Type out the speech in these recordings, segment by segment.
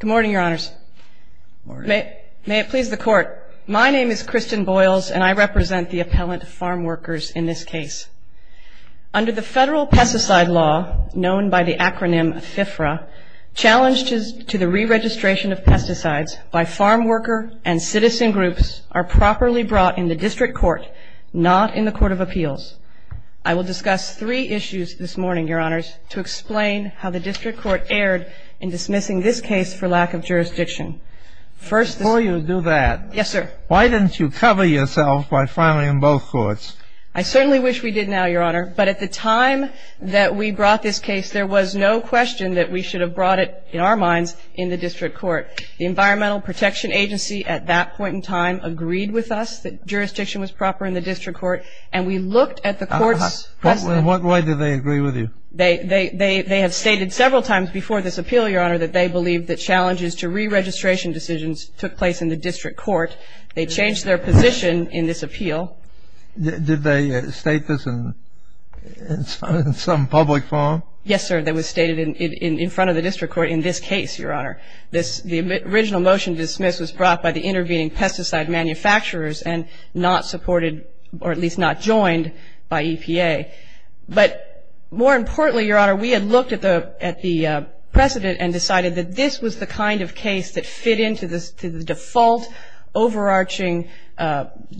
Good morning, Your Honors. May it please the Court, my name is Kristen Boyles and I represent the appellant farm workers in this case. Under the Federal Pesticide Law, known by the acronym FIFRA, challenges to the re-registration of pesticides by farm worker and citizen groups are properly brought in the District Court, not in the Court of Appeals. I will discuss three issues this morning, Your Honors, to explain how the District Court erred in dismissing this case for lack of jurisdiction. Before you do that, why didn't you cover yourself by filing in both courts? I certainly wish we did now, Your Honor, but at the time that we brought this case, there was no question that we should have brought it, in our minds, in the District Court. The Environmental Protection Agency at that point in time agreed with us that jurisdiction was proper in the District Court, and we looked at the Court's precedent. Why did they agree with you? They have stated several times before this appeal, Your Honor, that they believe that challenges to re-registration decisions took place in the District Court. They changed their position in this appeal. Did they state this in some public forum? Yes, sir. It was stated in front of the District Court in this case, Your Honor. The original motion to dismiss was brought by the intervening pesticide manufacturers and not supported or at least not joined by EPA. But more importantly, Your Honor, we had looked at the precedent and decided that this was the kind of case that fit into the default overarching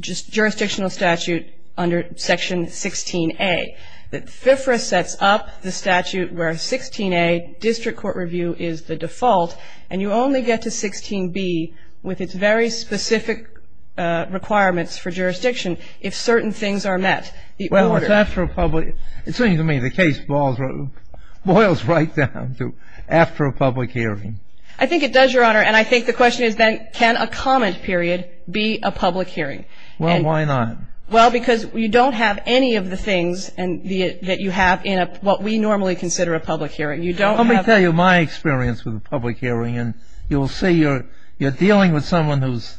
jurisdictional statute under Section 16A, that FFRA sets up the statute where 16A, District Court review, is the default, and you only get to 16B with its very specific requirements for jurisdiction if certain things are met. Well, it's after a public – it seems to me the case boils right down to after a public hearing. I think it does, Your Honor, and I think the question is then, can a comment period be a public hearing? Well, why not? Well, because you don't have any of the things that you have in what we normally consider a public hearing. You don't have – Let me tell you my experience with a public hearing, and you'll see you're dealing with someone whose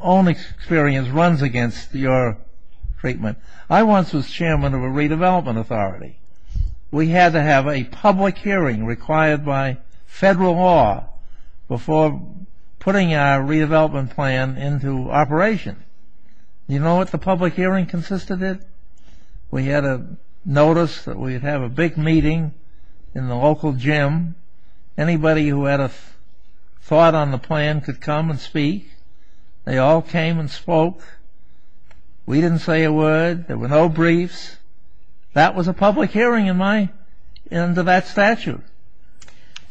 own experience runs against your treatment. I once was chairman of a redevelopment authority. We had to have a public hearing required by federal law before putting our redevelopment plan into operation. You know what the public hearing consisted of? We had a notice that we'd have a big meeting in the local gym. Anybody who had a thought on the plan could come and speak. They all came and spoke. We didn't say a word. There were no briefs. That was a public hearing in my – into that statute.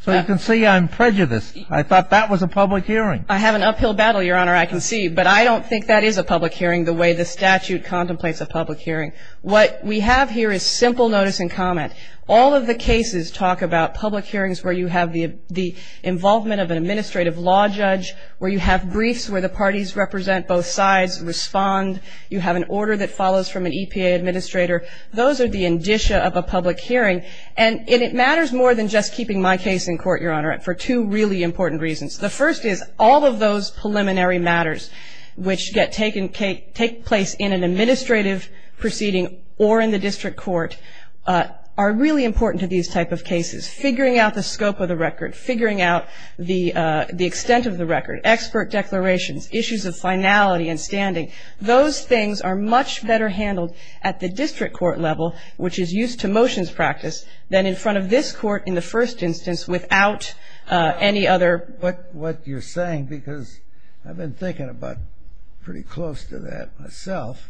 So you can see I'm prejudiced. I thought that was a public hearing. I have an uphill battle, Your Honor, I can see, but I don't think that is a public hearing the way the statute contemplates a public hearing. What we have here is simple notice and comment. All of the cases talk about public hearings where you have the involvement of an administrative law judge, where you have briefs where the parties represent both sides and respond. You have an order that follows from an EPA administrator. Those are the indicia of a public hearing. And it matters more than just keeping my case in court, Your Honor, for two really important reasons. The first is all of those preliminary matters which get taken – take place in an administrative proceeding or in the district court are really important to these type of cases. Figuring out the scope of the record, figuring out the extent of the record, expert declarations, issues of finality and standing, those things are much better handled at the district court level, which is used to motions practice, than in front of this court in the first instance without any other – I like what you're saying because I've been thinking about pretty close to that myself.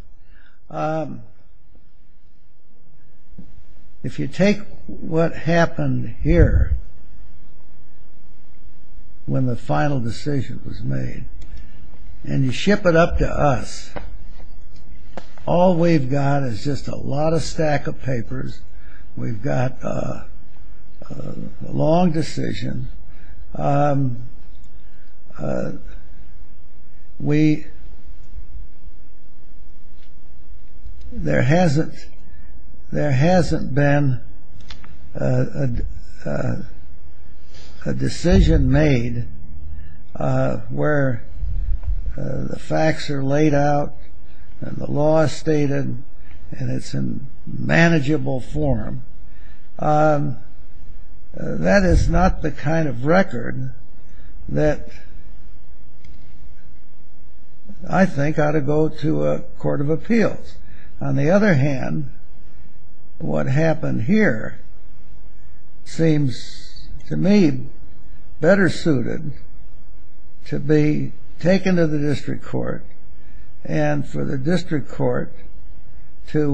If you take what happened here when the final decision was made and you ship it up to us, all we've got is just a lot of stack of papers. We've got a long decision. There hasn't been a decision made where the facts are laid out and the law is stated and it's in manageable form. That is not the kind of record that I think ought to go to a court of appeals. On the other hand, what happened here seems to me better suited to be taken to the district court and for the district court to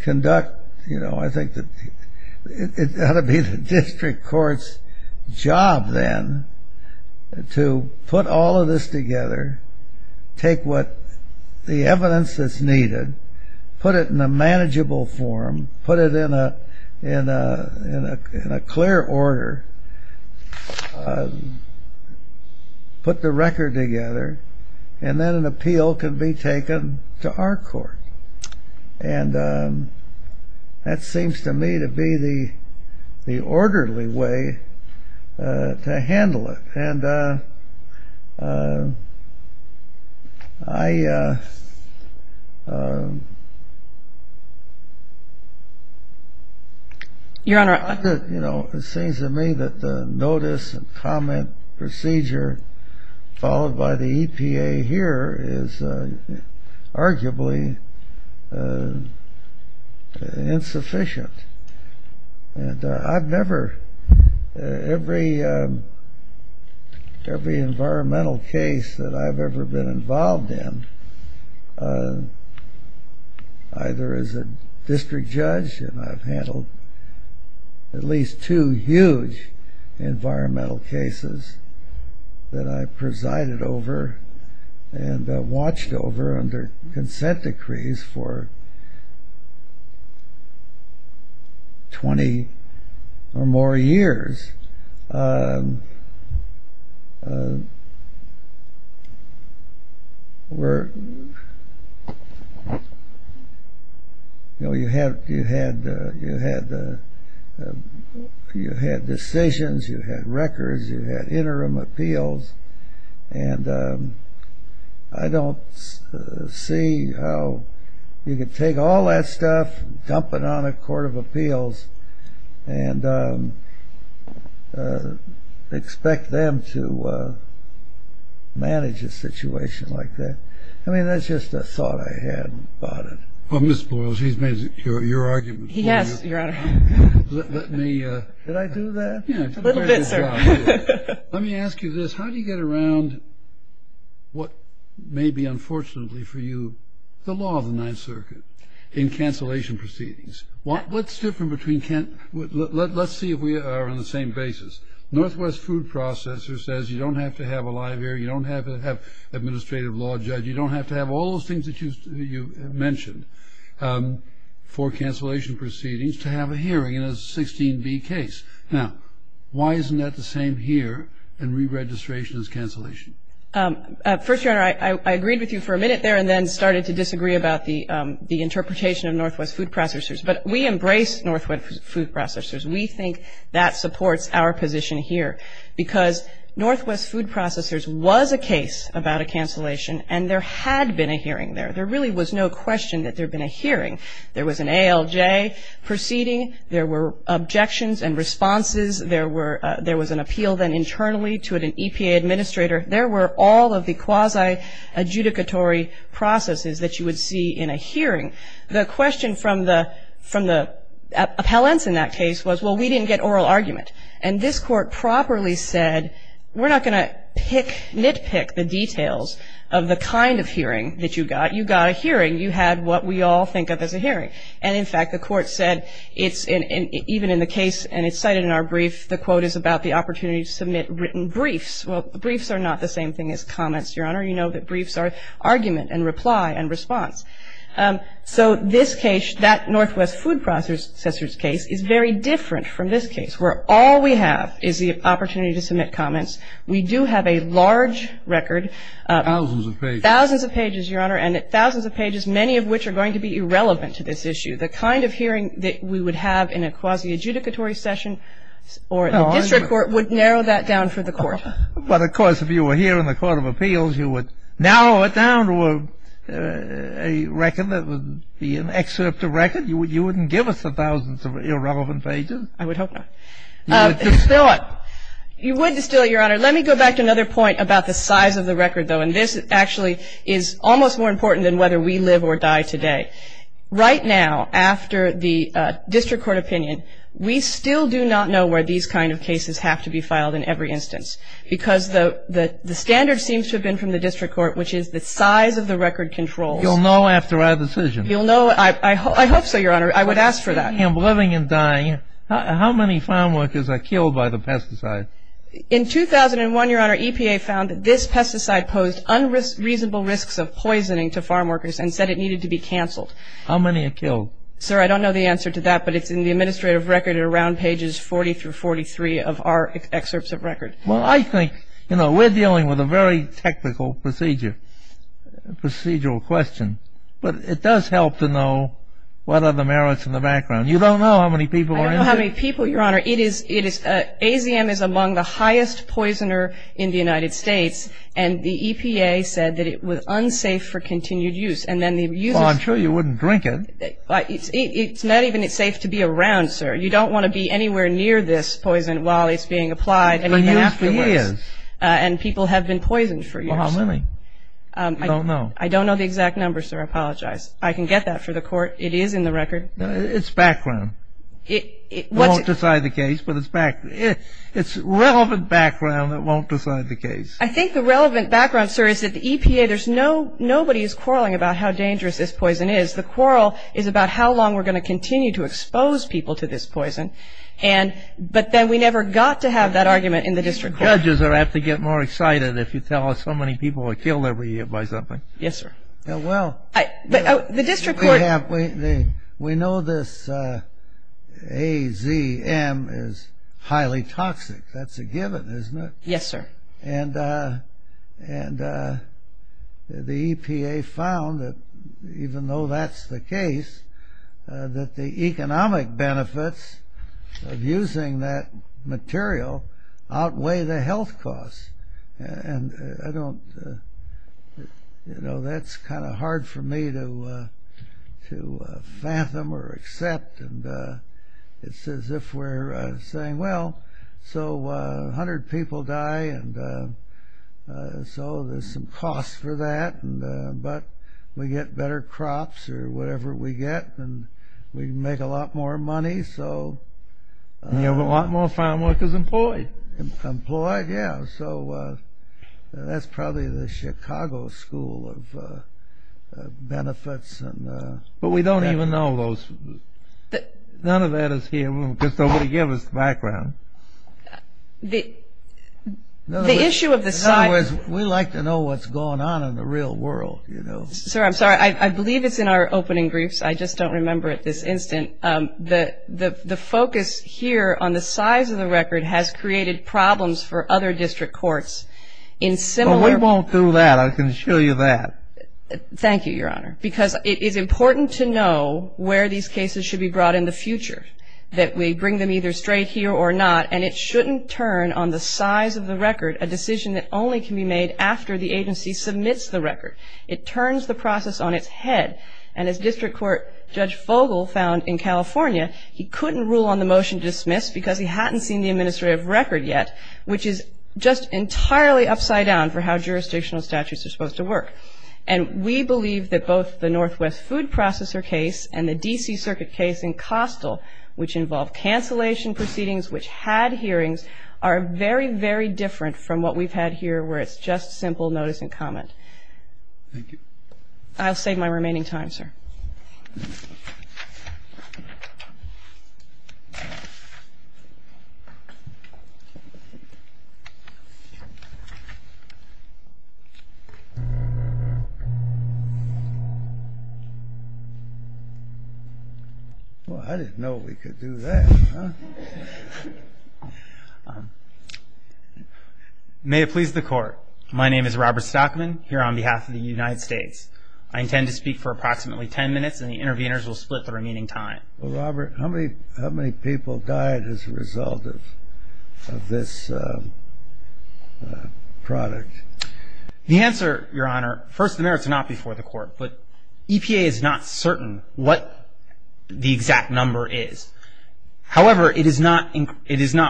conduct – it ought to be the district court's job then to put all of this together, take the evidence that's needed, put it in a manageable form, put it in a clear order, put the record together, and then an appeal can be taken to our court. And that seems to me to be the orderly way to handle it. And it seems to me that the notice and comment procedure followed by the EPA here is arguably insufficient. And I've never – every environmental case that I've ever been involved in, either as a district judge – and I've handled at least two huge environmental cases that I presided over and watched over under consent decrees for 20 or more years, were – you had decisions, you had records, you had interim appeals, and I don't see how you could take all that stuff and dump it on a court of appeals. And expect them to manage a situation like that. I mean, that's just a thought I had about it. Well, Ms. Boyle, she's made your argument clear. Yes, Your Honor. Let me – did I do that? A little bit, sir. Let me ask you this. How do you get around what may be unfortunately for you the law of the Ninth Circuit in cancellation proceedings? What's different between – let's see if we are on the same basis. Northwest Food Processors says you don't have to have a live hearing, you don't have to have an administrative law judge, you don't have to have all those things that you mentioned for cancellation proceedings to have a hearing in a 16B case. Now, why isn't that the same here in re-registration as cancellation? First, Your Honor, I agreed with you for a minute there and then started to disagree about the interpretation of Northwest Food Processors. But we embrace Northwest Food Processors. We think that supports our position here. Because Northwest Food Processors was a case about a cancellation and there had been a hearing there. There really was no question that there had been a hearing. There was an ALJ proceeding. There were objections and responses. There was an appeal then internally to an EPA administrator. There were all of the quasi-adjudicatory processes that you would see in a hearing. The question from the appellants in that case was, well, we didn't get oral argument. And this court properly said, we're not going to nitpick the details of the kind of hearing that you got. You got a hearing. You had what we all think of as a hearing. And in fact, the court said, even in the case, and it's cited in our brief, the quote is about the opportunity to submit written briefs. Well, briefs are not the same thing as comments, Your Honor. You know that briefs are argument and reply and response. So this case, that Northwest Food Processors case is very different from this case, where all we have is the opportunity to submit comments. We do have a large record. Thousands of pages. Thousands of pages, Your Honor. And thousands of pages, many of which are going to be irrelevant to this issue. The kind of hearing that we would have in a quasi-adjudicatory session or a district court would narrow that down for the court. But of course, if you were here in the Court of Appeals, you would narrow it down to a record that would be an excerpt of record. You wouldn't give us the thousands of irrelevant pages. I would hope not. You would distill it. You would distill it, Your Honor. Let me go back to another point about the size of the record, though. And this actually is almost more important than whether we live or die today. Right now, after the district court opinion, we still do not know where these kind of cases have to be filed in every instance. Because the standard seems to have been from the district court, which is the size of the record controls. You'll know after our decision. You'll know. I hope so, Your Honor. I would ask for that. I'm living and dying. How many farmworkers are killed by the pesticide? In 2001, Your Honor, EPA found that this pesticide posed unreasonable risks of poisoning to farmworkers and said it needed to be canceled. How many are killed? Sir, I don't know the answer to that. But it's in the administrative record around pages 40 through 43 of our excerpts of record. Well, I think, you know, we're dealing with a very technical procedure, procedural question. But it does help to know what are the merits in the background. You don't know how many people are in there? I don't know how many people, Your Honor. It is, it is, AZM is among the highest poisoner in the United States. And the EPA said that it was unsafe for continued use. And then the users. Well, I'm sure you wouldn't drink it. It's not even safe to be around, sir. You don't want to be anywhere near this poison while it's being applied. But you have to use. And people have been poisoned for years. Well, how many? I don't know. I don't know the exact number, sir. I apologize. I can get that for the court. It is in the record. It's background. It won't decide the case, but it's relevant background that won't decide the case. I think the relevant background, sir, is that the EPA, there's no, nobody is quarreling about how dangerous this poison is. The quarrel is about how long we're going to continue to expose people to this poison. And, but then we never got to have that argument in the district court. Judges are apt to get more excited if you tell us how many people are killed every year by something. Yes, sir. Yeah, well. But the district court. We know this AZM is highly toxic. That's a given, isn't it? Yes, sir. And the EPA found that even though that's the case, that the economic benefits of using that material outweigh the health costs. And I don't, you know, that's kind of hard for me to fathom or accept. And it's as if we're saying, well, so 100 people die, and so there's some cost for that. But we get better crops or whatever we get, and we make a lot more money, so. And you have a lot more farm workers employed. Employed, yeah. So that's probably the Chicago school of benefits. But we don't even know those. None of that is here, because nobody gave us the background. The issue of the size. In other words, we like to know what's going on in the real world, you know. Sir, I'm sorry. I believe it's in our opening briefs. I just don't remember it this instant. The focus here on the size of the record has created problems for other district courts in similar. Well, we won't do that. I can show you that. Thank you, Your Honor. Because it is important to know where these cases should be brought in the future, that we bring them either straight here or not. And it shouldn't turn on the size of the record a decision that only can be made after the agency submits the record. It turns the process on its head. And as District Court Judge Fogel found in California, he couldn't rule on the motion to dismiss because he hadn't seen the administrative record yet, which is just entirely upside down for how jurisdictional statutes are supposed to work. And we believe that both the Northwest Food Processor case and the D.C. Circuit case in Costill, which involved cancellation proceedings, which had hearings, are very, very different from what we've had here where it's just simple notice and comment. Thank you. I'll save my remaining time, sir. Well, I didn't know we could do that, huh? May it please the Court. My name is Robert Stockman, here on behalf of the United States. I intend to speak for approximately 10 minutes, and the interveners will split the remaining time. Well, Robert, how many people died as a result of this product? The answer, Your Honor, first, the merits are not before the Court, but EPA is not certain what the exact number is. However, it is not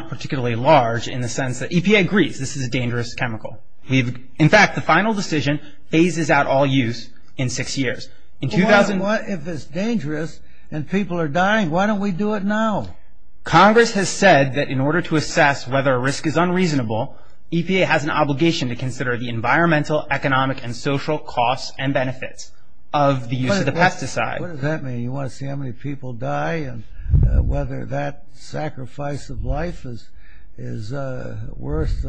particularly large in the sense that EPA agrees this is a dangerous chemical. In fact, the final decision phases out all use in six years. In 2000 What if it's dangerous and people are dying? Why don't we do it now? Congress has said that in order to assess whether a risk is unreasonable, EPA has an obligation to consider the environmental, economic, and social costs and benefits of the use of the pesticide. What does that mean? You want to see how many people die and whether that sacrifice of life is worth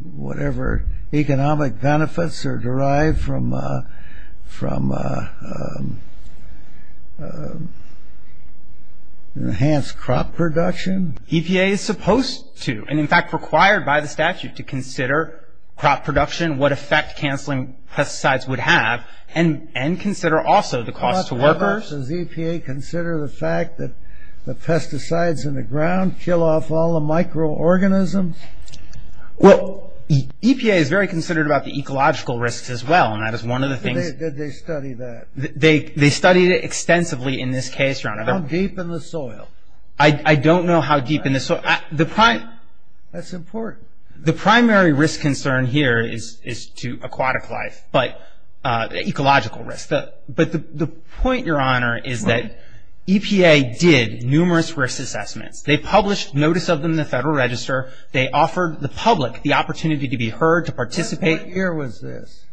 whatever economic benefits are derived from enhanced crop production? EPA is supposed to, and in fact required by the statute to consider crop production, what effect cancelling pesticides would have, and consider also the cost to workers. Does EPA consider the fact that the pesticides in the ground kill off all the microorganisms? Well, EPA is very considered about the ecological risks as well, and that is one of the things. Did they study that? They studied it extensively in this case, Your Honor. How deep in the soil? I don't know how deep in the soil. That's important. The primary risk concern here is to aquatic life, but ecological risk. But the point, Your Honor, is that EPA did numerous risk assessments. They published notice of them in the Federal Register. They offered the public the opportunity to be heard, to participate. What year was this?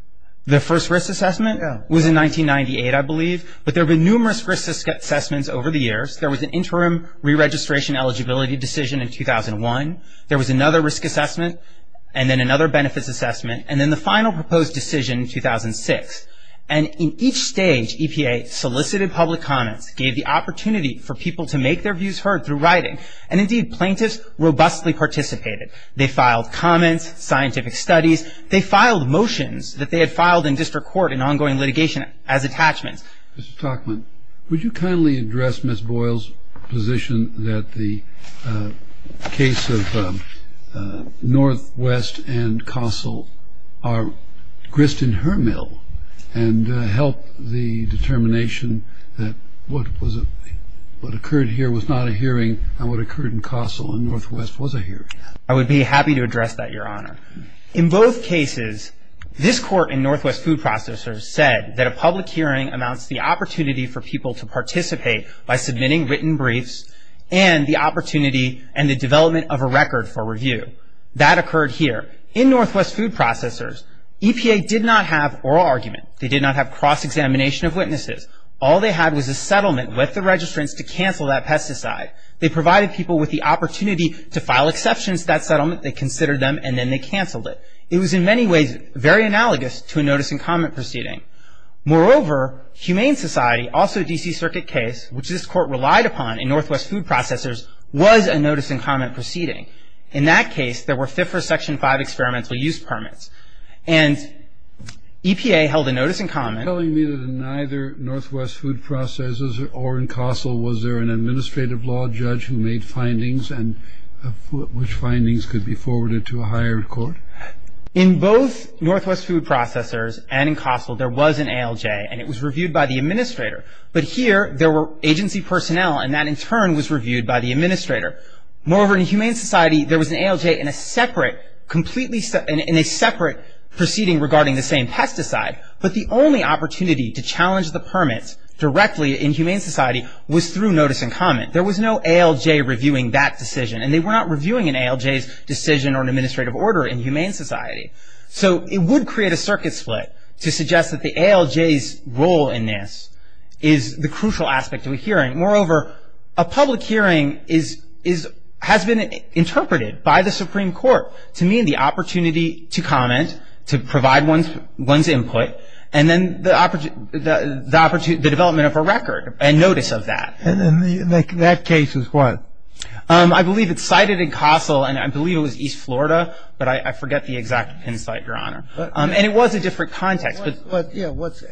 The first risk assessment was in 1998, I believe. But there have been numerous risk assessments over the years. There was an interim re-registration eligibility decision in 2001. There was another risk assessment, and then another benefits assessment, and then the final proposed decision in 2006. And in each stage, EPA solicited public comments, gave the opportunity for people to make their views heard through writing, and indeed plaintiffs robustly participated. They filed comments, scientific studies. They filed motions that they had filed in district court in ongoing litigation as attachments. Mr. Stockman, would you kindly address Ms. Boyle's position that the case of Northwest and Castle are grist in her mill, and help the determination that what occurred here was not a hearing, and what occurred in Castle and Northwest was a hearing? I would be happy to address that, Your Honor. In both cases, this court in Northwest Food Processors said that a public hearing amounts to the opportunity for people to participate by submitting written briefs, and the opportunity and the development of a record for review. That occurred here. In Northwest Food Processors, EPA did not have oral argument. They did not have cross-examination of witnesses. All they had was a settlement with the registrants to cancel that pesticide. They provided people with the opportunity to file exceptions to that settlement, they considered them, and then they canceled it. It was in many ways very analogous to a notice and comment proceeding. Moreover, Humane Society, also a D.C. Circuit case, which this court relied upon in Northwest Food Processors, was a notice and comment proceeding. In that case, there were FIFRA Section 5 experimental use permits. And EPA held a notice and comment. Are you telling me that in either Northwest Food Processors or in Castle, was there an administrative law judge who made findings and which findings could be forwarded to a higher court? In both Northwest Food Processors and in Castle, there was an ALJ, and it was reviewed by the administrator. But here, there were agency personnel, and that in turn was reviewed by the administrator. Moreover, in Humane Society, there was an ALJ in a separate proceeding regarding the same pesticide. But the only opportunity to challenge the permits directly in Humane Society was through notice and comment. There was no ALJ reviewing that decision, and they were not reviewing an ALJ's decision or an administrative order in Humane Society. So it would create a circuit split to suggest that the ALJ's role in this is the crucial aspect of a hearing. Moreover, a public hearing has been interpreted by the Supreme Court to mean the opportunity to comment, to provide one's input, and then the development of a record and notice of that. And in that case, it was what? I believe it's cited in Castle, and I believe it was East Florida, but I forget the exact pin site, Your Honor. And it was a different context. But yeah, what's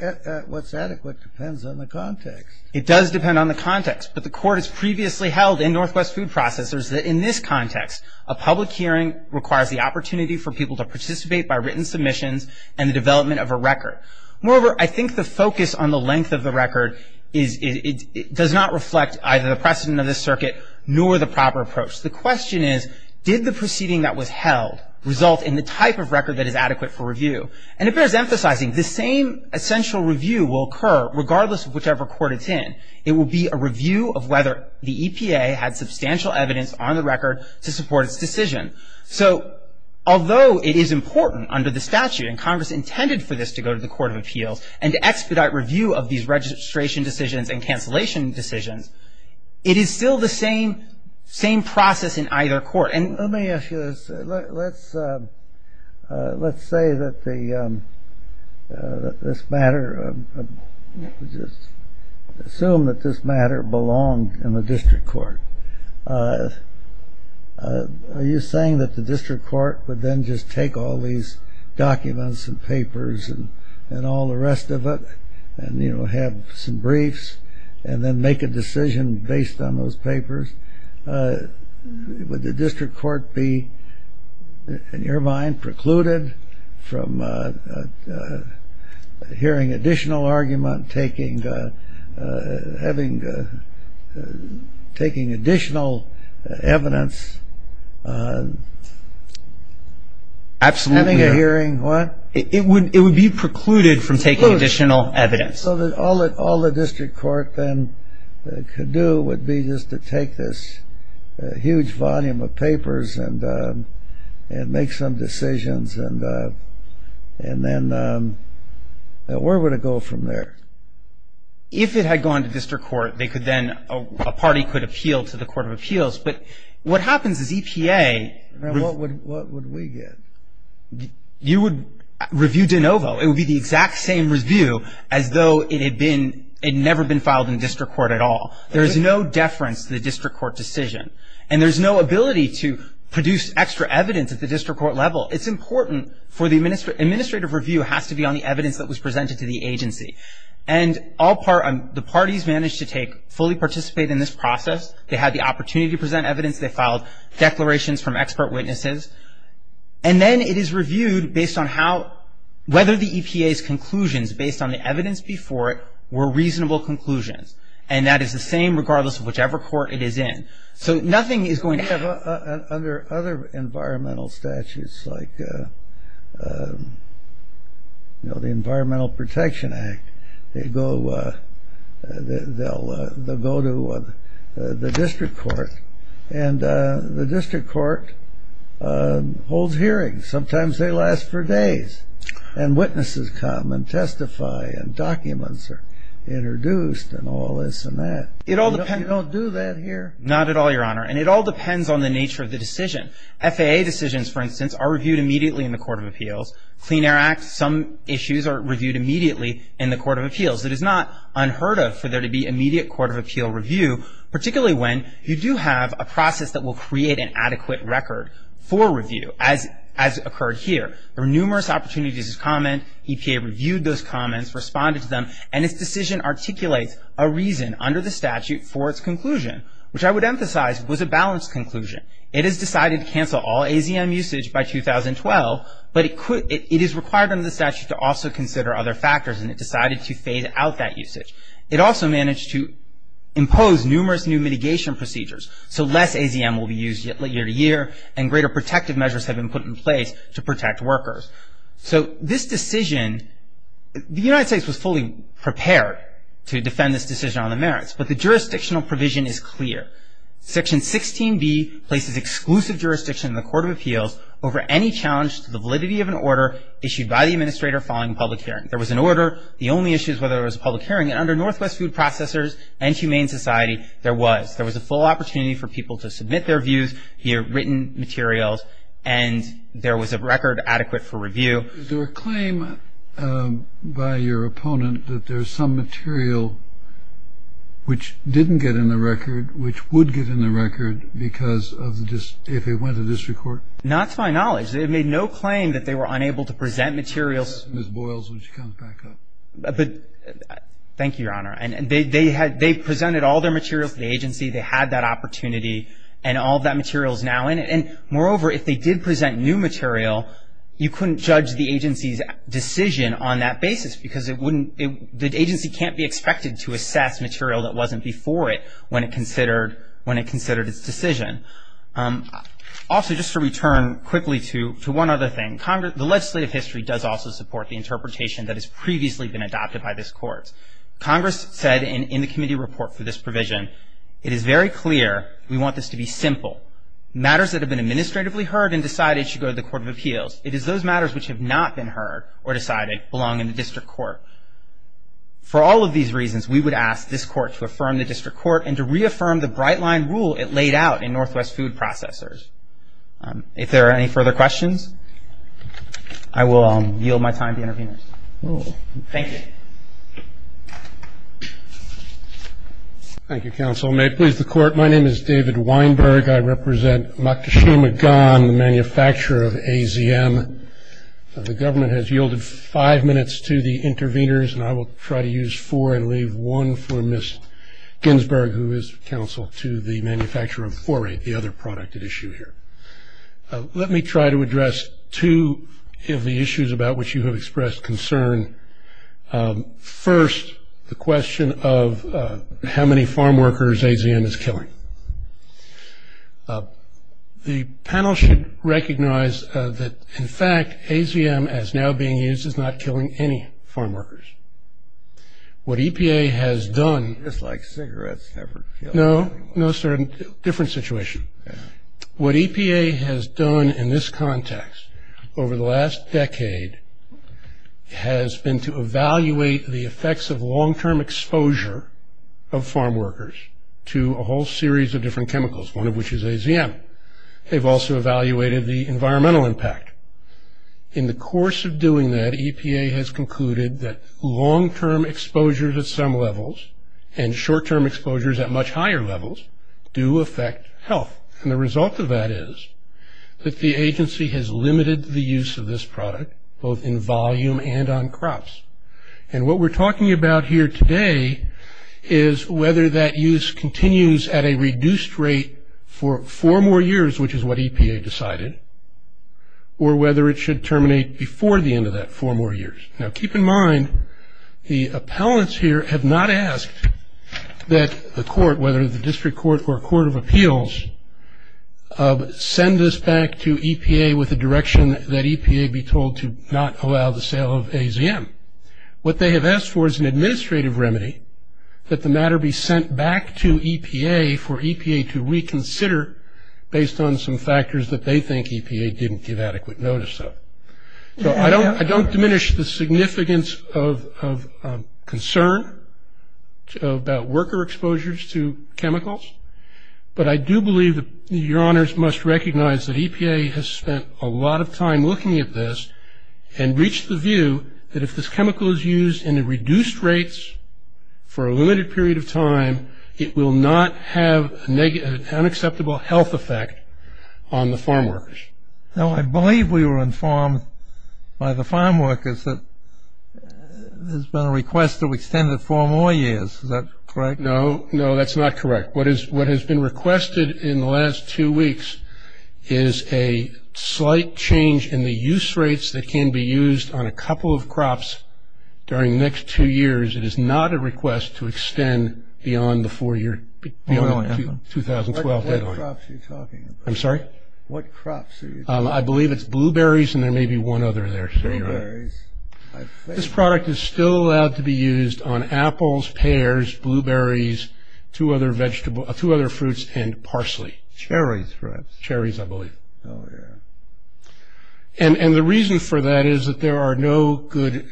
adequate depends on the context. It does depend on the context. But the court has previously held in Northwest Food Processors that in this context, a public hearing requires the opportunity for people to participate by written submissions and the development of a record. Moreover, I think the focus on the length of the record does not reflect either the precedent of the circuit nor the proper approach. The question is, did the proceeding that was held result in the type of record that is adequate for review? And it bears emphasizing, the same essential review will occur regardless of whichever court it's in. It will be a review of whether the EPA had substantial evidence on the record to support its decision. So although it is important under the statute, and Congress intended for this to go to the Court of Appeals and to expedite review of these registration decisions and cancellation decisions, it is still the same process in either court. And let me ask you this. Let's say that this matter, just assume that this matter belonged in the district court. Are you saying that the district court would then just take all these documents and papers and all the rest of it and, you know, have some briefs and then make a decision based on those papers? Would the district court be, in your mind, precluded from hearing additional argument, taking additional evidence? Absolutely. Hearing what? It would be precluded from taking additional evidence. So all the district court then could do would be just to take this huge volume of papers and make some decisions and then where would it go from there? If it had gone to district court, they could then, a party could appeal to the Court of Appeals. But what happens is EPA would review de novo. It would be the exact same review as though it had never been filed in district court at all. There is no deference to the district court decision. And there's no ability to produce extra evidence at the district court level. It's important for the administrative review has to be on the evidence that was presented to the agency. And the parties managed to take, fully participate in this process. They had the opportunity to present evidence. They filed declarations from expert witnesses. And then it is reviewed based on how, whether the EPA's conclusions based on the evidence before it were reasonable conclusions. And that is the same regardless of whichever court it is in. So nothing is going to happen. Under other environmental statutes like, you know, the Environmental Protection Act, they go, they'll go to the district court. And the district court holds hearings. Sometimes they last for days. And witnesses come and testify and documents are introduced and all this and that. You don't do that here. Not at all, Your Honor. And it all depends on the nature of the decision. FAA decisions, for instance, are reviewed immediately in the Court of Appeals. Clean Air Act, some issues are reviewed immediately in the Court of Appeals. It is not unheard of for there to be immediate Court of Appeal review, particularly when you do have a process that will create an adequate record for review as occurred here. There were numerous opportunities to comment. EPA reviewed those comments, responded to them. And its decision articulates a reason under the statute for its conclusion, which I would emphasize was a balanced conclusion. It has decided to cancel all AZM usage by 2012. But it is required under the statute to also consider other factors. And it decided to phase out that usage. It also managed to impose numerous new mitigation procedures. So less AZM will be used year to year. And greater protective measures have been put in place to protect workers. So this decision, the United States was fully prepared to defend this decision on the merits. But the jurisdictional provision is clear. Section 16B places exclusive jurisdiction in the Court of Appeals over any challenge to the validity of an order issued by the administrator following a public hearing. There was an order. The only issue is whether it was a public hearing. And under Northwest Food Processors and Humane Society, there was. There was a full opportunity for people to submit their views, hear written materials. And there was a record adequate for review. Is there a claim by your opponent that there's some material which didn't get in the record, which would get in the record because of the, if it went to district court? Not to my knowledge. They made no claim that they were unable to present materials. Ms. Boyles, would you come back up? Thank you, Your Honor. And they had, they presented all their materials to the agency. They had that opportunity. And all that material is now in it. And moreover, if they did present new material, you couldn't judge the agency's decision on that basis because it wouldn't, the agency can't be expected to assess material that wasn't before it when it considered, when it considered its decision. Also, just to return quickly to one other thing, the legislative history does also support the interpretation that has previously been adopted by this Court. Congress said in the committee report for this provision, it is very clear we want this to be simple. Matters that have been administratively heard and decided should go to the Court of Appeals. It is those matters which have not been heard or decided belong in the district court. For all of these reasons, we would ask this Court to affirm the district court and to reaffirm the bright line rule it laid out in Northwest Food Processors. If there are any further questions, I will yield my time to the interveners. Thank you. Thank you, counsel. May it please the Court. My name is David Weinberg. I represent Makashima Gan, the manufacturer of AZM. The government has yielded five minutes to the interveners, and I will try to use four and leave one for Ms. Ginsburg, who is counsel to the manufacturer of 4-8, the other product at issue here. Let me try to address two of the issues about which you have expressed concern. First, the question of how many farm workers AZM is killing. The panel should recognize that, in fact, AZM as now being used is not killing any farm workers. What EPA has done. Just like cigarettes never kill. No, no, sir, different situation. What EPA has done in this context over the last decade has been to evaluate the effects of long-term exposure of farm workers to a whole series of different chemicals, one of which is AZM. They've also evaluated the environmental impact. In the course of doing that, EPA has concluded that long-term exposures at some levels and short-term exposures at much higher levels do affect health. And the result of that is that the agency has limited the use of this product both in volume and on crops. And what we're talking about here today is whether that use continues at a reduced rate for four more years, which is what EPA decided, or whether it should terminate before the end of that four more years. Now, keep in mind, the appellants here have not asked that the court, whether the district court or court of appeals, send this back to EPA with a direction that EPA be told to not allow the sale of AZM. What they have asked for is an administrative remedy that the matter be sent back to EPA for EPA to reconsider based on some factors that they think EPA didn't give adequate notice of. I don't diminish the significance of concern about worker exposures to chemicals, but I do believe that your honors must recognize that EPA has spent a lot of time looking at this and reached the view that if this chemical is used in a reduced rates for a limited period of time, it will not have an unacceptable health effect on the farm workers. Now, I believe we were informed by the farm workers that there's been a request to extend it four more years, is that correct? No, no, that's not correct. What has been requested in the last two weeks is a slight change in the use rates that can be used on a couple of crops during the next two years. It is not a request to extend beyond the four year, beyond the 2012 deadline. What crops are you talking about? I'm sorry? What crops are you talking about? I believe it's blueberries and there may be one other there. Blueberries. This product is still allowed to be used on apples, pears, blueberries, two other fruits and parsley. Cherries perhaps. Cherries, I believe. Oh, yeah. And the reason for that is that there are no good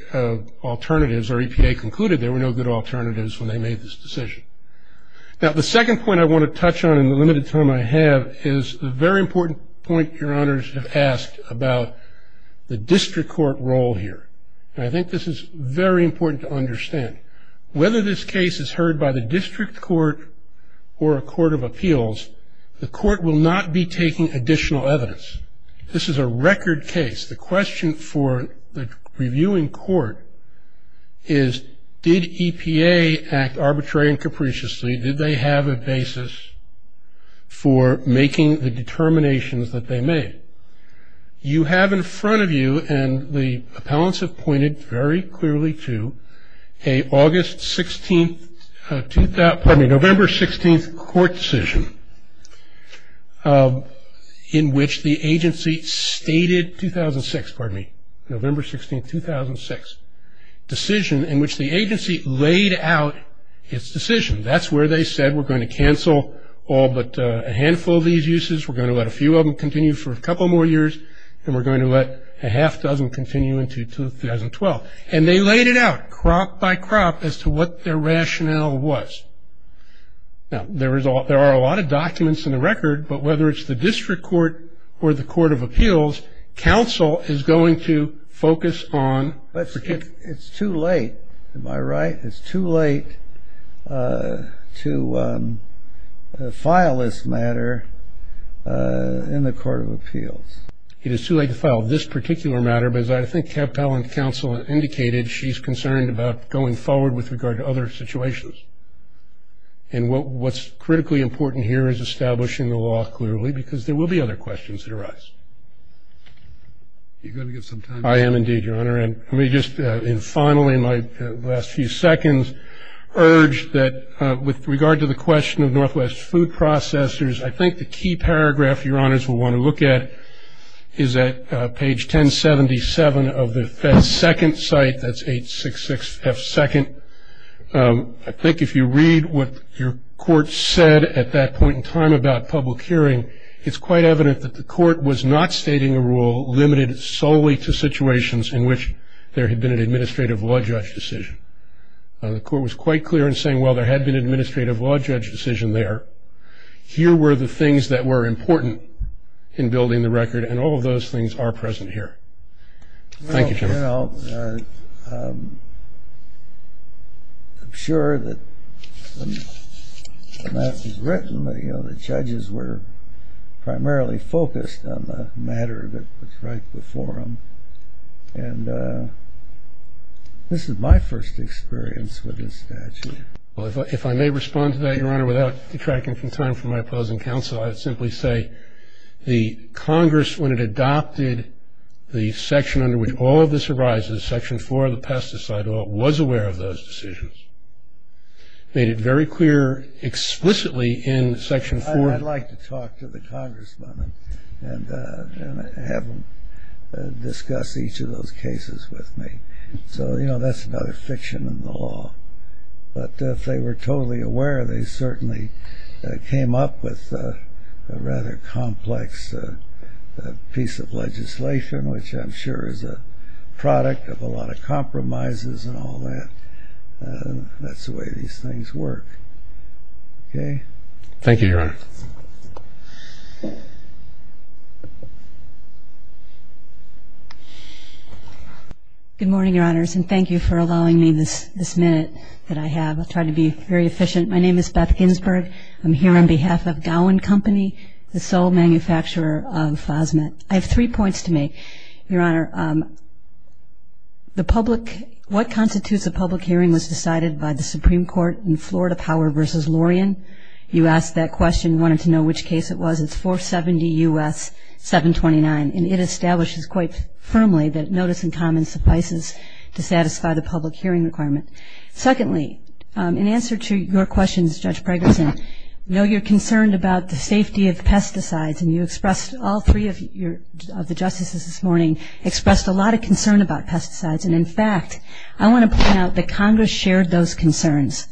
alternatives, or EPA concluded there were no good alternatives when they made this decision. Now, the second point I want to touch on in the limited time I have is a very important point your honors have asked about the district court role here. And I think this is very important to understand. Whether this case is heard by the district court or a court of appeals, the court will not be taking additional evidence. This is a record case. The question for the reviewing court is did EPA act arbitrary and capriciously? Did they have a basis for making the determinations that they made? You have in front of you, and the appellants have pointed very clearly to, a August 16th, pardon me, November 16th court decision in which the agency stated 2006, pardon me, November 16th, 2006 decision in which the agency laid out its decision. That's where they said we're going to cancel all but a handful of these uses. We're going to let a few of them continue for a couple more years, and we're going to let a half dozen continue into 2012. And they laid it out, crop by crop, as to what their rationale was. Now, there are a lot of documents in the record, but whether it's the district court or the court of appeals, counsel is going to focus on particular- It's too late, am I right? It's too late to file this matter in the court of appeals. It is too late to file this particular matter, but as I think appellant counsel indicated, she's concerned about going forward with regard to other situations. And what's critically important here is establishing the law clearly, because there will be other questions that arise. You're going to get some time. I am indeed, your honor. And let me just, and finally, my last few seconds, urge that with regard to the question of Northwest food processors, I think the key paragraph your honors will want to look at is at page 1077 of the second site. That's 866F2nd. I think if you read what your court said at that point in time about public hearing, it's quite evident that the court was not stating a rule limited solely to situations in which there had been an administrative law judge decision. The court was quite clear in saying, well, there had been an administrative law judge decision there. Here were the things that were important in building the record, and all of those things are present here. Thank you, your honor. Well, I'm sure that when that was written, you know, the judges were primarily focused on the matter that was right before them. And this is my first experience with this statute. Well, if I may respond to that, your honor, without detracting from time from my opposing counsel, I'd simply say, the Congress, when it adopted the section under which all of this arises, section four of the pesticide law, was aware of those decisions. Made it very clear explicitly in section four. I'd like to talk to the Congressmen and have them discuss each of those cases with me. So, you know, that's another fiction in the law. But if they were totally aware, they certainly came up with a rather complex piece of legislation, which I'm sure is a product of a lot of compromises and all that. That's the way these things work. Okay? Thank you, your honor. Good morning, your honors. And thank you for allowing me this minute that I have. I'll try to be very efficient. My name is Beth Ginsberg. I'm here on behalf of Gowan Company, the sole manufacturer of FOSMET. I have three points to make. Your honor, the public, what constitutes a public hearing was decided by the Supreme Court in Florida Power versus Lorien? You asked that question, wanted to know which case it was. It's 470 U.S. 729. And it establishes quite firmly that notice in common suffices to satisfy the public hearing requirement. Secondly, in answer to your questions, Judge Pregerson, we know you're concerned about the safety of pesticides. And you expressed, all three of the justices this morning, expressed a lot of concern about pesticides. And in fact, I want to point out that Congress shared those concerns.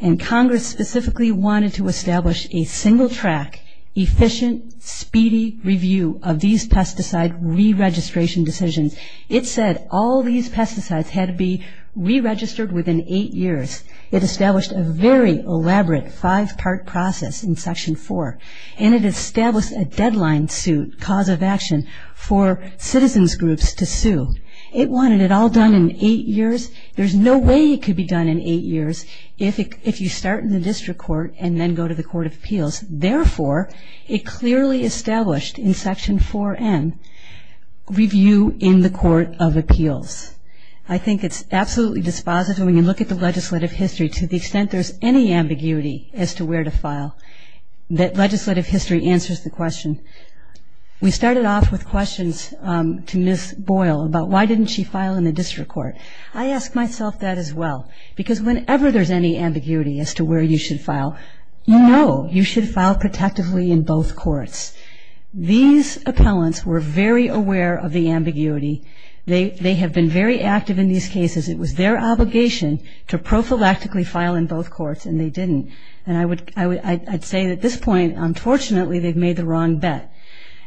And Congress specifically wanted to establish a single track, efficient, speedy review of these pesticide re-registration decisions. It said all these pesticides had to be re-registered within eight years. It established a very elaborate five-part process in section four. And it established a deadline suit, cause of action, for citizens groups to sue. It wanted it all done in eight years. There's no way it could be done in eight years if you start in the district court and then go to the Court of Appeals. Therefore, it clearly established in section 4N, review in the Court of Appeals. I think it's absolutely dispositive when you look at the legislative history, to the extent there's any ambiguity as to where to file, that legislative history answers the question. We started off with questions to Ms. Boyle about why didn't she file in the district court? I ask myself that as well. Because whenever there's any ambiguity as to where you should file, no, you should file protectively in both courts. These appellants were very aware of the ambiguity. They have been very active in these cases. It was their obligation to prophylactically file in both courts, and they didn't. And I'd say at this point, unfortunately, they've made the wrong bet.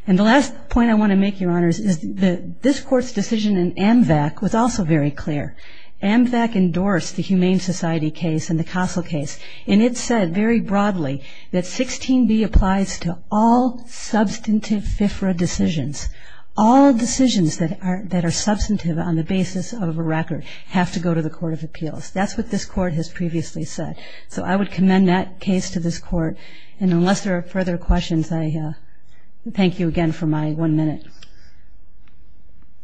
And the last point I want to make, Your Honors, is that this court's decision in AMVAC was also very clear. AMVAC endorsed the Humane Society case and the Castle case. And it said very broadly that 16B applies to all substantive FFRA decisions. All decisions that are substantive on the basis of a record have to go to the Court of Appeals. That's what this court has previously said. So I would commend that case to this court. And unless there are further questions, I thank you again for my one minute.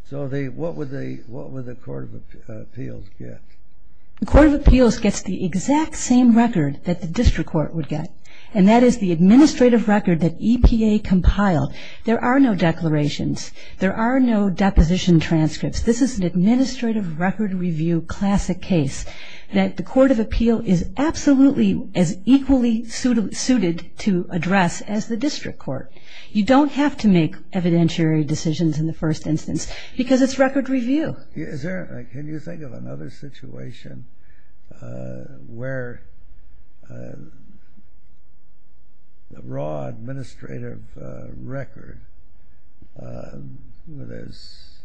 So what would the Court of Appeals get? The Court of Appeals gets the exact same record that the district court would get. And that is the administrative record that EPA compiled. There are no declarations. There are no deposition transcripts. This is an administrative record review classic case that the Court of Appeal is absolutely as equally suited to address as the district court. You don't have to make evidentiary decisions in the first instance, because it's record review. Can you think of another situation where the raw administrative record where there's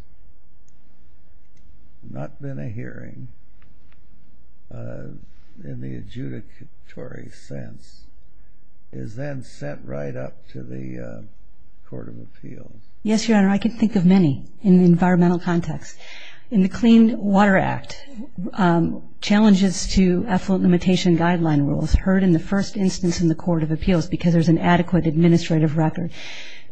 not been a hearing in the adjudicatory sense is then sent right up to the Court of Appeals? Yes, Your Honor, I can think of many in the environmental context. In the Clean Water Act, challenges to effluent limitation guideline rules heard in the first instance in the Court of Appeals because there's an adequate administrative record.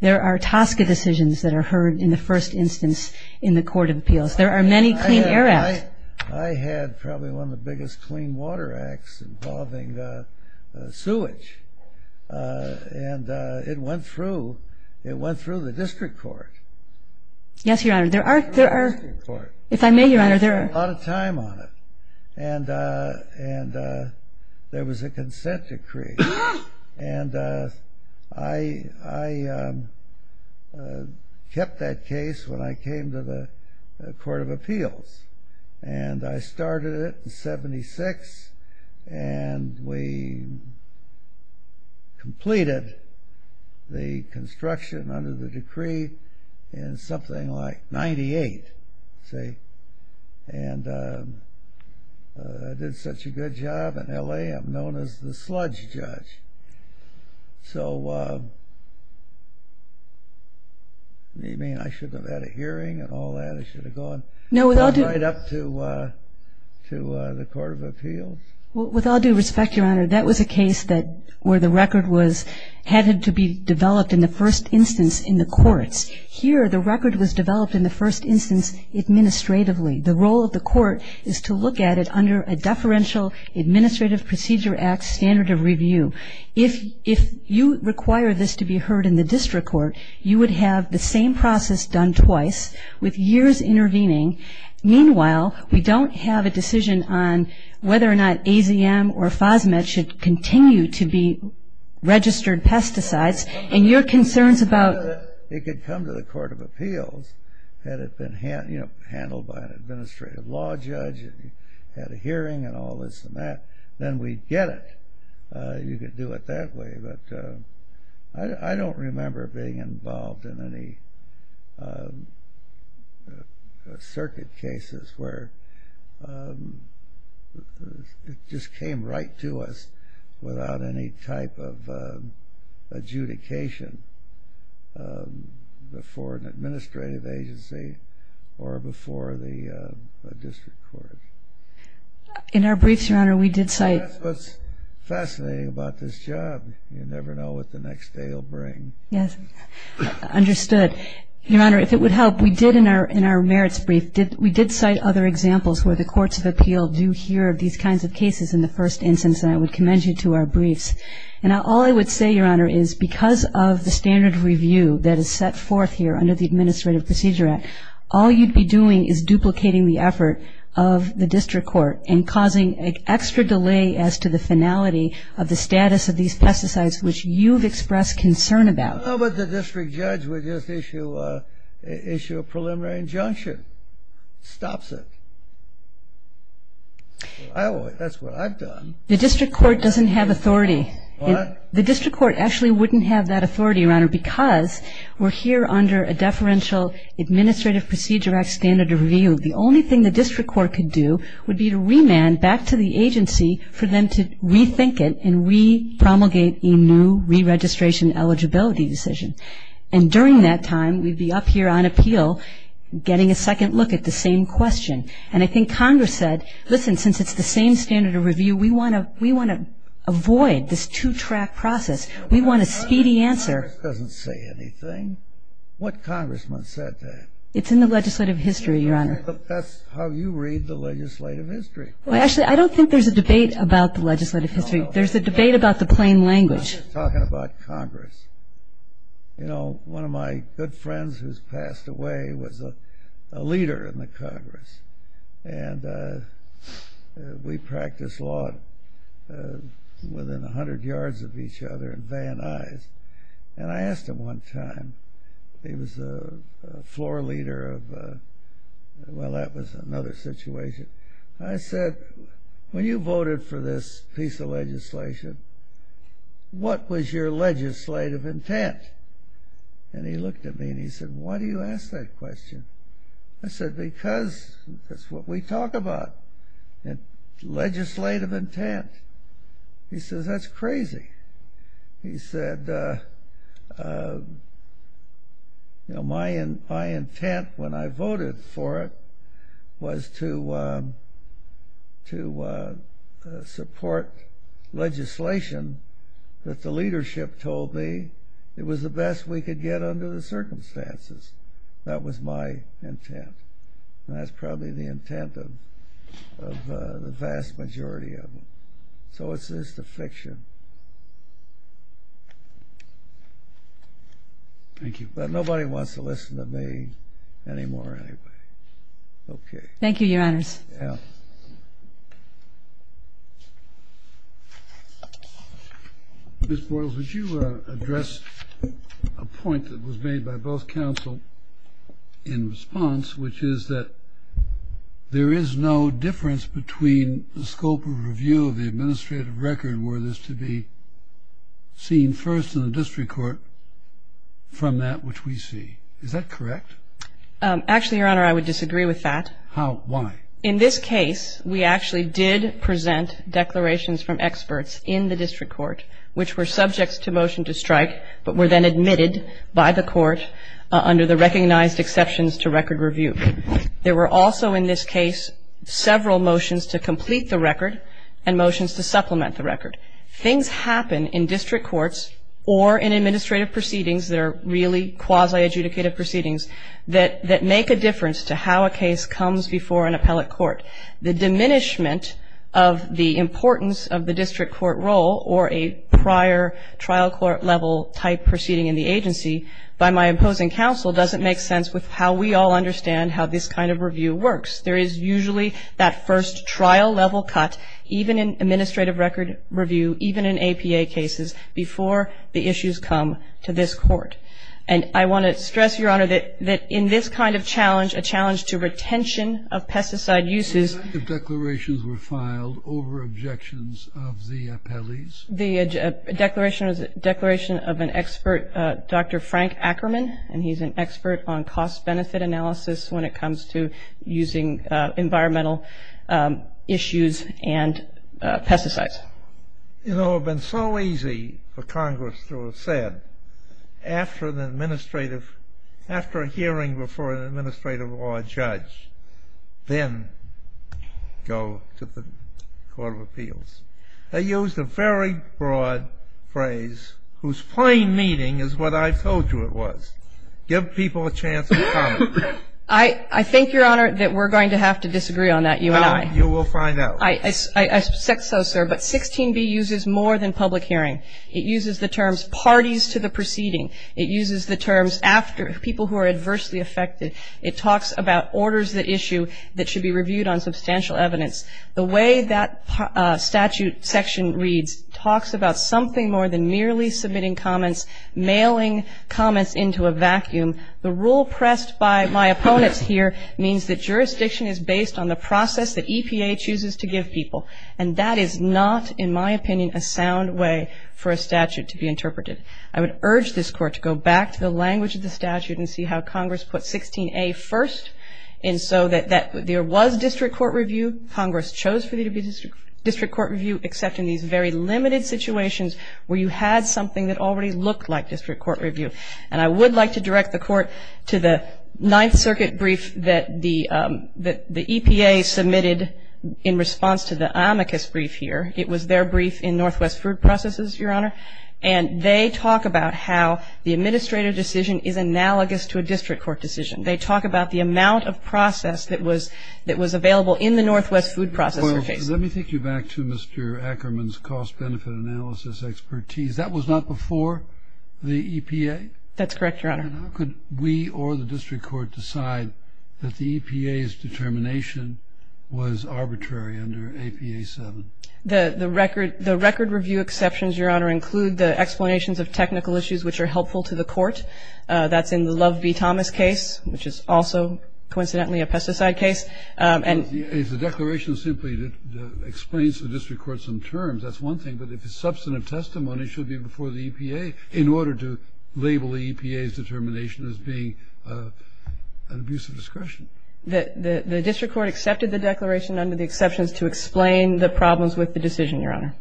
There are TSCA decisions that are heard in the first instance in the Court of Appeals. There are many Clean Air Acts. I had probably one of the biggest Clean Water Acts involving sewage. And it went through the district court. Yes, Your Honor, there are. If I may, Your Honor, there are. A lot of time on it. And there was a consent decree. And I kept that case when I came to the Court of Appeals. And I started it in 76. And we completed the construction under the decree in something like 98. And I did such a good job in LA, I'm known as the sludge judge. So what do you mean I shouldn't have had a hearing and all that? I should have gone right up to the Court of Appeals? With all due respect, Your Honor, that was a case where the record was headed to be developed in the first instance in the courts. Here, the record was developed in the first instance administratively. The role of the court is to look at it under a deferential administrative procedure act standard of review. If you require this to be heard in the district court, you would have the same process done twice with years intervening. Meanwhile, we don't have a decision on whether or not AZM or FOSMET should continue to be registered pesticides. And your concerns about- It could come to the Court of Appeals had it been handled by an administrative law judge and had a hearing and all this and that. Then we'd get it. You could do it that way, but I don't remember being involved in any circuit cases where it just came right to us without any type of adjudication before an administrative agency or before the district court. In our briefs, Your Honor, we did cite- That's what's fascinating about this job. You never know what the next day will bring. Yes, understood. Your Honor, if it would help, we did in our merits brief, we did cite other examples where the courts of appeal do hear of these kinds of cases in the first instance. And I would commend you to our briefs. And all I would say, Your Honor, is because of the standard of review that is set forth here under the Administrative Procedure Act, all you'd be doing is duplicating the effort of the district court and causing an extra delay as to the finality of the status of these pesticides, which you've expressed concern about. How about the district judge would just issue a preliminary injunction? Stops it. That's what I've done. The district court doesn't have authority. What? The district court actually wouldn't have that authority, Your Honor, because we're here under a deferential Administrative Procedure Act standard of review. The only thing the district court could do would be to remand back to the agency for them to rethink it and re-promulgate a new re-registration eligibility decision. And during that time, we'd be up here on appeal getting a second look at the same question. And I think Congress said, listen, since it's the same standard of review, we want to avoid this two-track process. We want a speedy answer. Congress doesn't say anything. What congressman said that? It's in the legislative history, Your Honor. That's how you read the legislative history. Well, actually, I don't think there's a debate about the legislative history. There's a debate about the plain language. I'm not talking about Congress. You know, one of my good friends who's passed away was a leader in the Congress. And we practiced law within 100 yards of each other and Van Nuys. And I asked him one time. He was a floor leader of, well, that was another situation. I said, when you voted for this piece of legislation, what was your legislative intent? And he looked at me and he said, why do you ask that question? I said, because that's what we talk about, legislative intent. He says, that's crazy. He said, my intent when I voted for it was to support legislation that the leadership told me it was the best we could get under the circumstances. That was my intent. And that's probably the intent of the vast majority of them. So it's just a fiction. Thank you. But nobody wants to listen to me anymore, anyway. OK. Thank you, your honors. Yeah. Ms. Boyles, would you address a point that was made by both counsel in response, which is that there is no difference between the scope of review of the administrative record were this to be seen first in the district court from that which we see. Is that correct? Actually, your honor, I would disagree with that. Why? In this case, we actually did present declarations from experts in the district court, which were subjects to motion to strike, but were then admitted by the court under the recognized exceptions to record review. There were also, in this case, several motions to complete the record and motions to supplement the record. Things happen in district courts or in administrative proceedings that are really quasi-adjudicative proceedings that make a difference to how a case comes before an appellate court. The diminishment of the importance of the district court role or a prior trial court level type proceeding in the agency by my imposing counsel doesn't make sense with how we all understand how this kind of review works. There is usually that first trial level cut, even in administrative record review, even in APA cases, before the issues come to this court. And I want to stress, your honor, that in this kind of challenge, a challenge to retention of pesticide uses. The declarations were filed over objections of the appellees. The declaration was a declaration of an expert, Dr. Frank Ackerman. And he's an expert on cost-benefit analysis when it comes to using environmental issues and pesticides. You know, it would have been so easy for Congress to have said, after a hearing before an administrative law judge, then go to the Court of Appeals. They used a very broad phrase whose plain meaning is what I told you it was. Give people a chance to comment. I think, your honor, that we're going to have to disagree on that, you and I. You will find out. I suspect so, sir. But 16b uses more than public hearing. It uses the terms parties to the proceeding. It uses the terms after people who are adversely affected. It talks about orders that issue that should be reviewed on substantial evidence. The way that statute section reads talks about something more than merely submitting comments, mailing comments into a vacuum. The rule pressed by my opponents here means that jurisdiction is based on the process that EPA chooses to give people. And that is not, in my opinion, a sound way for a statute to be interpreted. I would urge this court to go back to the language of the statute and see how Congress put 16a first, and so that there was district court review. Congress chose for there to be district court review, except in these very limited situations where you had something that already looked like district court review. And I would like to direct the court to the Ninth Circuit brief that the EPA submitted in response to the amicus brief here. It was their brief in Northwest Food Processes, Your Honor. And they talk about how the administrative decision is analogous to a district court decision. They talk about the amount of process that was available in the Northwest Food Processes case. Let me take you back to Mr. Ackerman's cost benefit analysis expertise. That was not before the EPA? That's correct, Your Honor. And how could we or the district court decide that the EPA's determination was arbitrary under APA 7? The record review exceptions, Your Honor, include the explanations of technical issues which are helpful to the court. That's in the Love v. Thomas case, which is also, coincidentally, a pesticide case. And is the declaration simply explains to the district court some terms? That's one thing. But if it's substantive testimony, it should be before the EPA in order to label the EPA's determination as being an abuse of discretion. The district court accepted the declaration under the exceptions to explain the problems with the decision, Your Honor.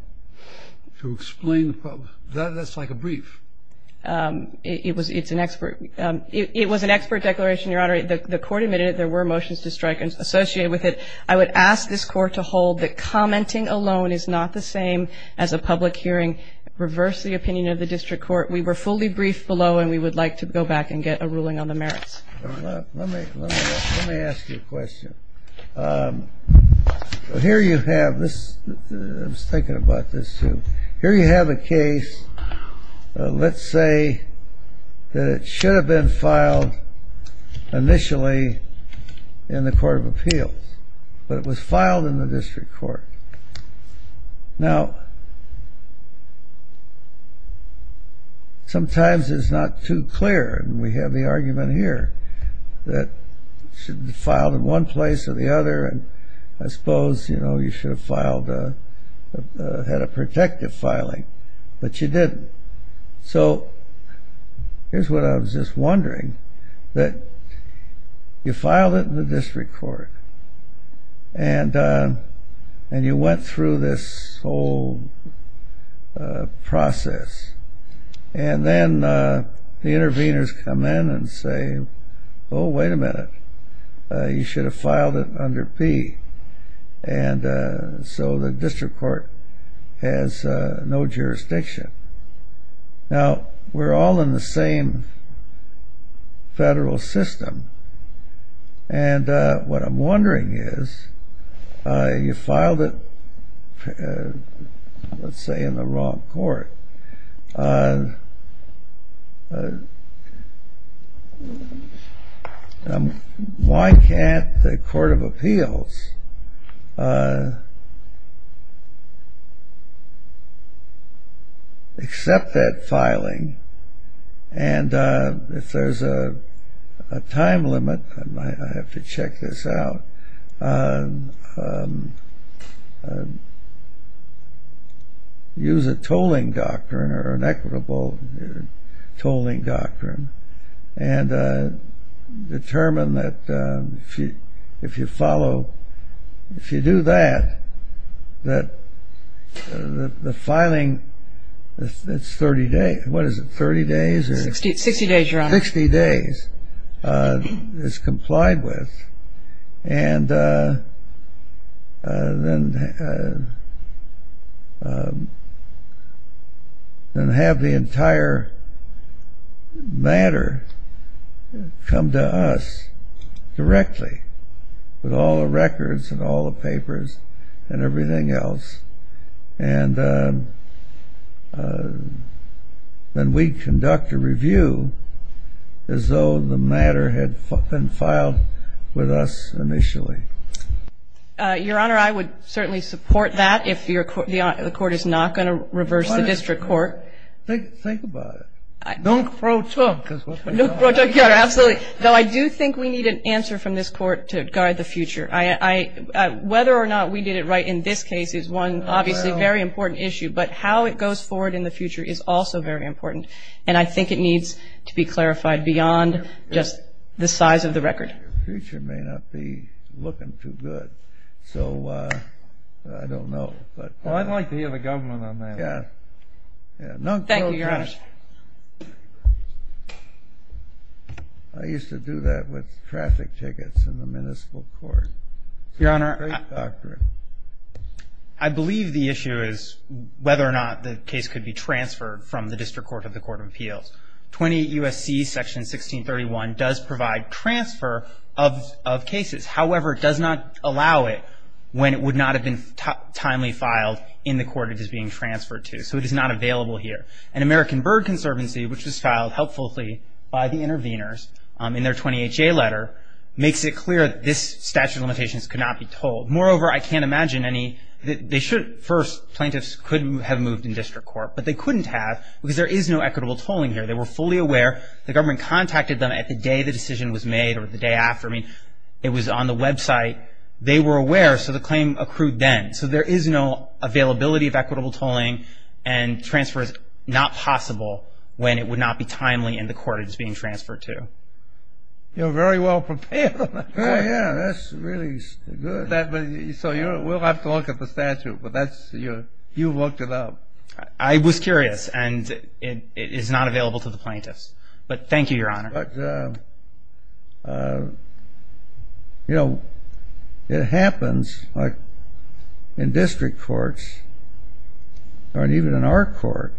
To explain the problem. That's like a brief. It was an expert declaration, Your Honor. The court admitted there were motions to strike associated with it. I would ask this court to hold that commenting alone is not the same as a public hearing. Reverse the opinion of the district court. We were fully briefed below. And we would like to go back and get a ruling on the merits. Let me ask you a question. Here you have this. I was thinking about this, too. Here you have a case. Let's say that it should have been filed initially in the Court of Appeals. But it was filed in the district court. Now, sometimes it's not too clear. And we have the argument here that it should have been filed in one place or the other. And I suppose you should have had a protective filing. But you didn't. So here's what I was just wondering. That you filed it in the district court. And you went through this whole process. And then the interveners come in and say, oh, wait a minute. You should have filed it under P. And so the district court has no jurisdiction. Now, we're all in the same federal system. And what I'm wondering is, you filed it, let's say, in the wrong court. But why can't the Court of Appeals accept that filing? And if there's a time limit, I have to check this out, and use a tolling doctrine, or an equitable tolling doctrine, and determine that if you follow, if you do that, that the filing, that's 30 days. What is it, 30 days? 60 days, Your Honor. 60 days is complied with. And then have the entire matter come to us directly, with all the records, and all the papers, and everything else. And then we conduct a review as though the matter had been filed with us initially. Your Honor, I would certainly support that, if the Court is not going to reverse the district court. Think about it. Don't throw talk. Don't throw talk. Yeah, absolutely. Though I do think we need an answer from this Court to guide the future. Whether or not we did it right in this case is one, obviously, very important issue. But how it goes forward in the future is also very important. And I think it needs to be clarified beyond just the size of the record. The future may not be looking too good. So I don't know. Well, I'd like to hear the government on that. Yeah. Thank you, Your Honor. I used to do that with traffic tickets in the municipal court. Your Honor, I believe the issue is from the district court to the court of appeals. 28 U.S.C. Section 1631 does provide transfer of cases. However, it does not allow it when it would not have been timely filed in the court it is being transferred to. So it is not available here. And American Bird Conservancy, which was filed helpfully by the intervenors in their 28J letter, makes it clear that this statute of limitations could not be told. Moreover, I can't imagine any that they should. First, plaintiffs could have moved in district court. But they couldn't have, because there is no equitable tolling here. They were fully aware. The government contacted them at the day the decision was made or the day after. It was on the website. They were aware. So the claim accrued then. So there is no availability of equitable tolling. And transfer is not possible when it would not be timely in the court it is being transferred to. You're very well-prepared on that court. Yeah, that's really good. So we'll have to look at the statute. But you've looked it up. I was curious. And it is not available to the plaintiffs. But thank you, Your Honor. But you know, it happens in district courts or even in our court,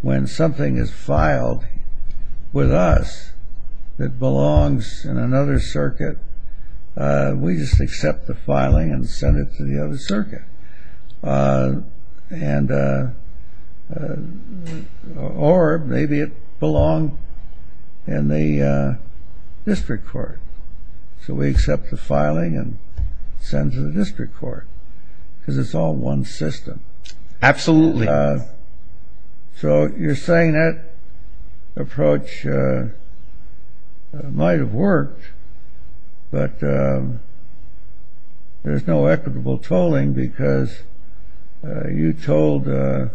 when something is filed with us that belongs in another circuit, we just accept the filing and send it to the other circuit. And or maybe it belonged in the district court. So we accept the filing and send it to the district court, because it's all one system. Absolutely. But there's no equitable tolling, because you told the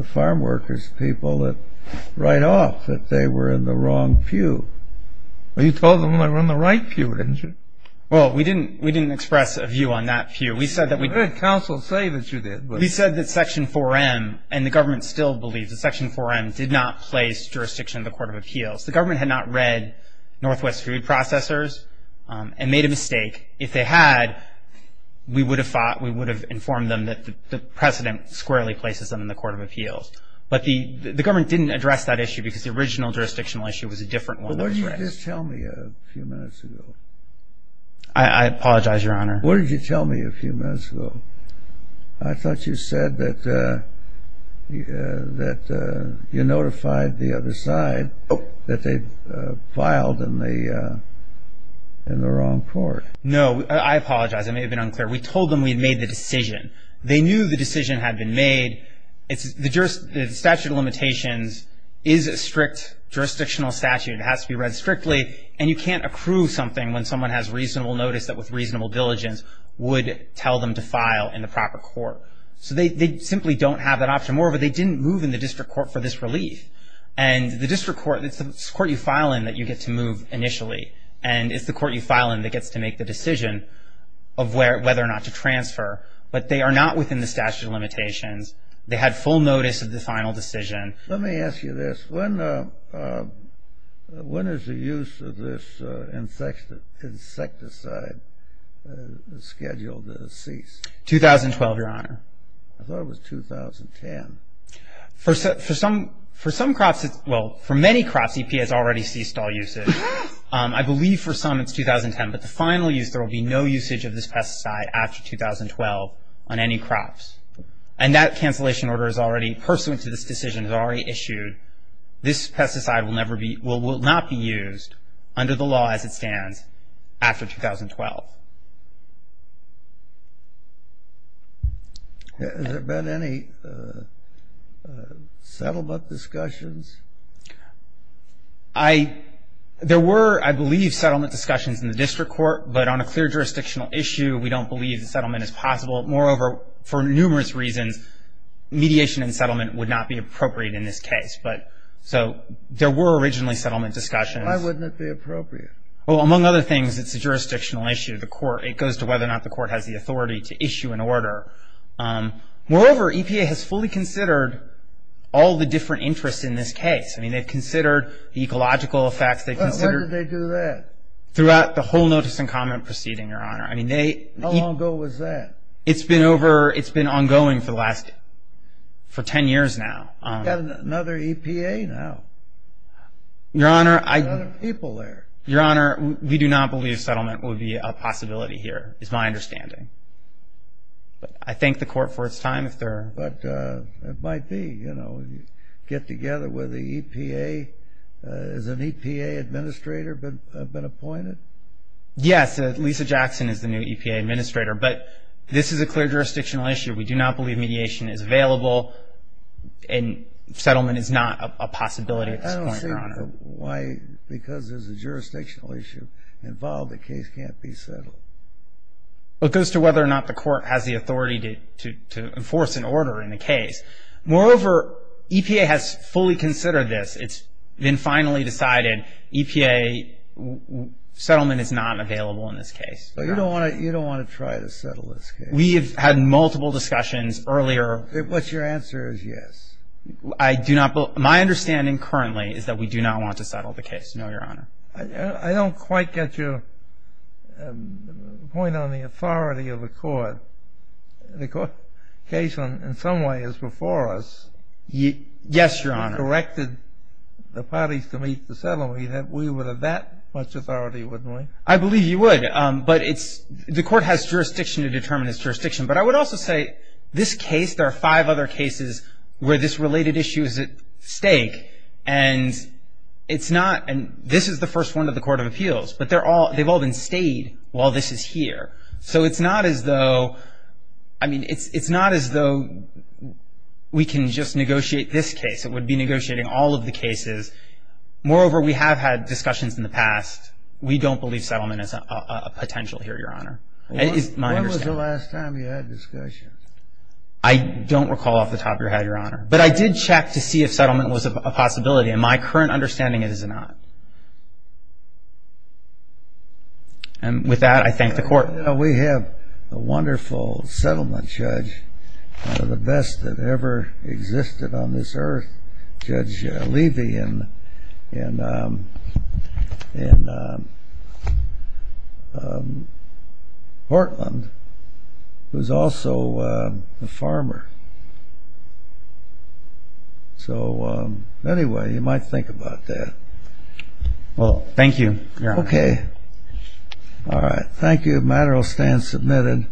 farmworkers people right off that they were in the wrong pew. You told them they were in the right pew, didn't you? Well, we didn't express a view on that pew. We said that we did. We heard counsel say that you did, but. We said that Section 4M, and the government still believes that Section 4M did not place jurisdiction in the Court of Appeals. The government had not read Northwest Food Processors and made a mistake. If they had, we would have informed them that the president squarely places them in the Court of Appeals. But the government didn't address that issue, because the original jurisdictional issue was a different one. Well, why didn't you just tell me a few minutes ago? I apologize, Your Honor. Why didn't you tell me a few minutes ago? I thought you said that you notified the other side that they filed in the wrong court. No, I apologize. It may have been unclear. We told them we had made the decision. They knew the decision had been made. The statute of limitations is a strict jurisdictional statute. It has to be read strictly. And you can't accrue something when someone has reasonable notice that with reasonable diligence would tell them to file in the proper court. So they simply don't have that option. Moreover, they didn't move in the district court for this relief. And the district court, it's the court you file in that you get to move initially. And it's the court you file in that gets to make the decision of whether or not to transfer. But they are not within the statute of limitations. They had full notice of the final decision. Let me ask you this. When is the use of this insecticide scheduled to cease? 2012, Your Honor. I thought it was 2010. For some crops, well, for many crops, EPA has already ceased all usage. I believe for some it's 2010. But the final use, there will be no usage of this pesticide after 2012 on any crops. And that cancellation order is already pursuant to this decision, has already issued. This pesticide will not be used under the law as it stands after 2012. Has there been any settlement discussions? I, there were, I believe, settlement discussions in the district court. But on a clear jurisdictional issue, we don't believe the settlement is possible. Moreover, for numerous reasons, mediation and settlement would not be appropriate in this case. But, so, there were originally settlement discussions. Why wouldn't it be appropriate? Well, among other things, it's a jurisdictional issue. The court, it goes to whether or not the court has the authority to issue an order. Moreover, EPA has fully considered all the different interests in this case. I mean, they've considered the ecological effects. They've considered. When did they do that? Throughout the whole notice and comment proceeding, Your Honor. I mean, they. How long ago was that? It's been over, it's been ongoing for the last, for 10 years now. You have another EPA now? Your Honor, I. Another people there. Your Honor, we do not believe settlement would be a possibility here, is my understanding. I thank the court for its time. But it might be, you know, get together with the EPA. Has an EPA administrator been appointed? Yes, Lisa Jackson is the new EPA administrator. But this is a clear jurisdictional issue. We do not believe mediation is available. And settlement is not a possibility at this point, Your Honor. I don't see why, because there's a jurisdictional issue involved, the case can't be settled. It goes to whether or not the court has the authority to enforce an order in the case. Moreover, EPA has fully considered this. It's been finally decided EPA settlement is not available in this case. So you don't want to try to settle this case? We've had multiple discussions earlier. What's your answer is yes. I do not believe, my understanding currently is that we do not want to settle the case. No, Your Honor. I don't quite get your point on the authority of the court. The court case in some way is before us. Yes, Your Honor. You corrected the parties to meet the settlement. We would have that much authority, wouldn't we? I believe you would. But it's, the court has jurisdiction to determine its jurisdiction. But I would also say, this case, there are five other cases where this related issue is at stake. And it's not, and this is the first one of the Court of Appeals. But they've all been stayed while this is here. So it's not as though, I mean, it's not as though we can just negotiate this case. It would be negotiating all of the cases. Moreover, we have had discussions in the past. We don't believe settlement is a potential here, Your Honor. It is my understanding. When was the last time you had a discussion? I don't recall off the top of your head, Your Honor. But I did check to see if settlement was a possibility. In my current understanding, it is not. And with that, I thank the court. We have a wonderful settlement judge, one of the best that ever existed on this earth, Judge Levy in Portland, who's also a farmer. So anyway, you might think about that. Well, thank you, Your Honor. Okay. All right. Thank you. The matter will stand submitted.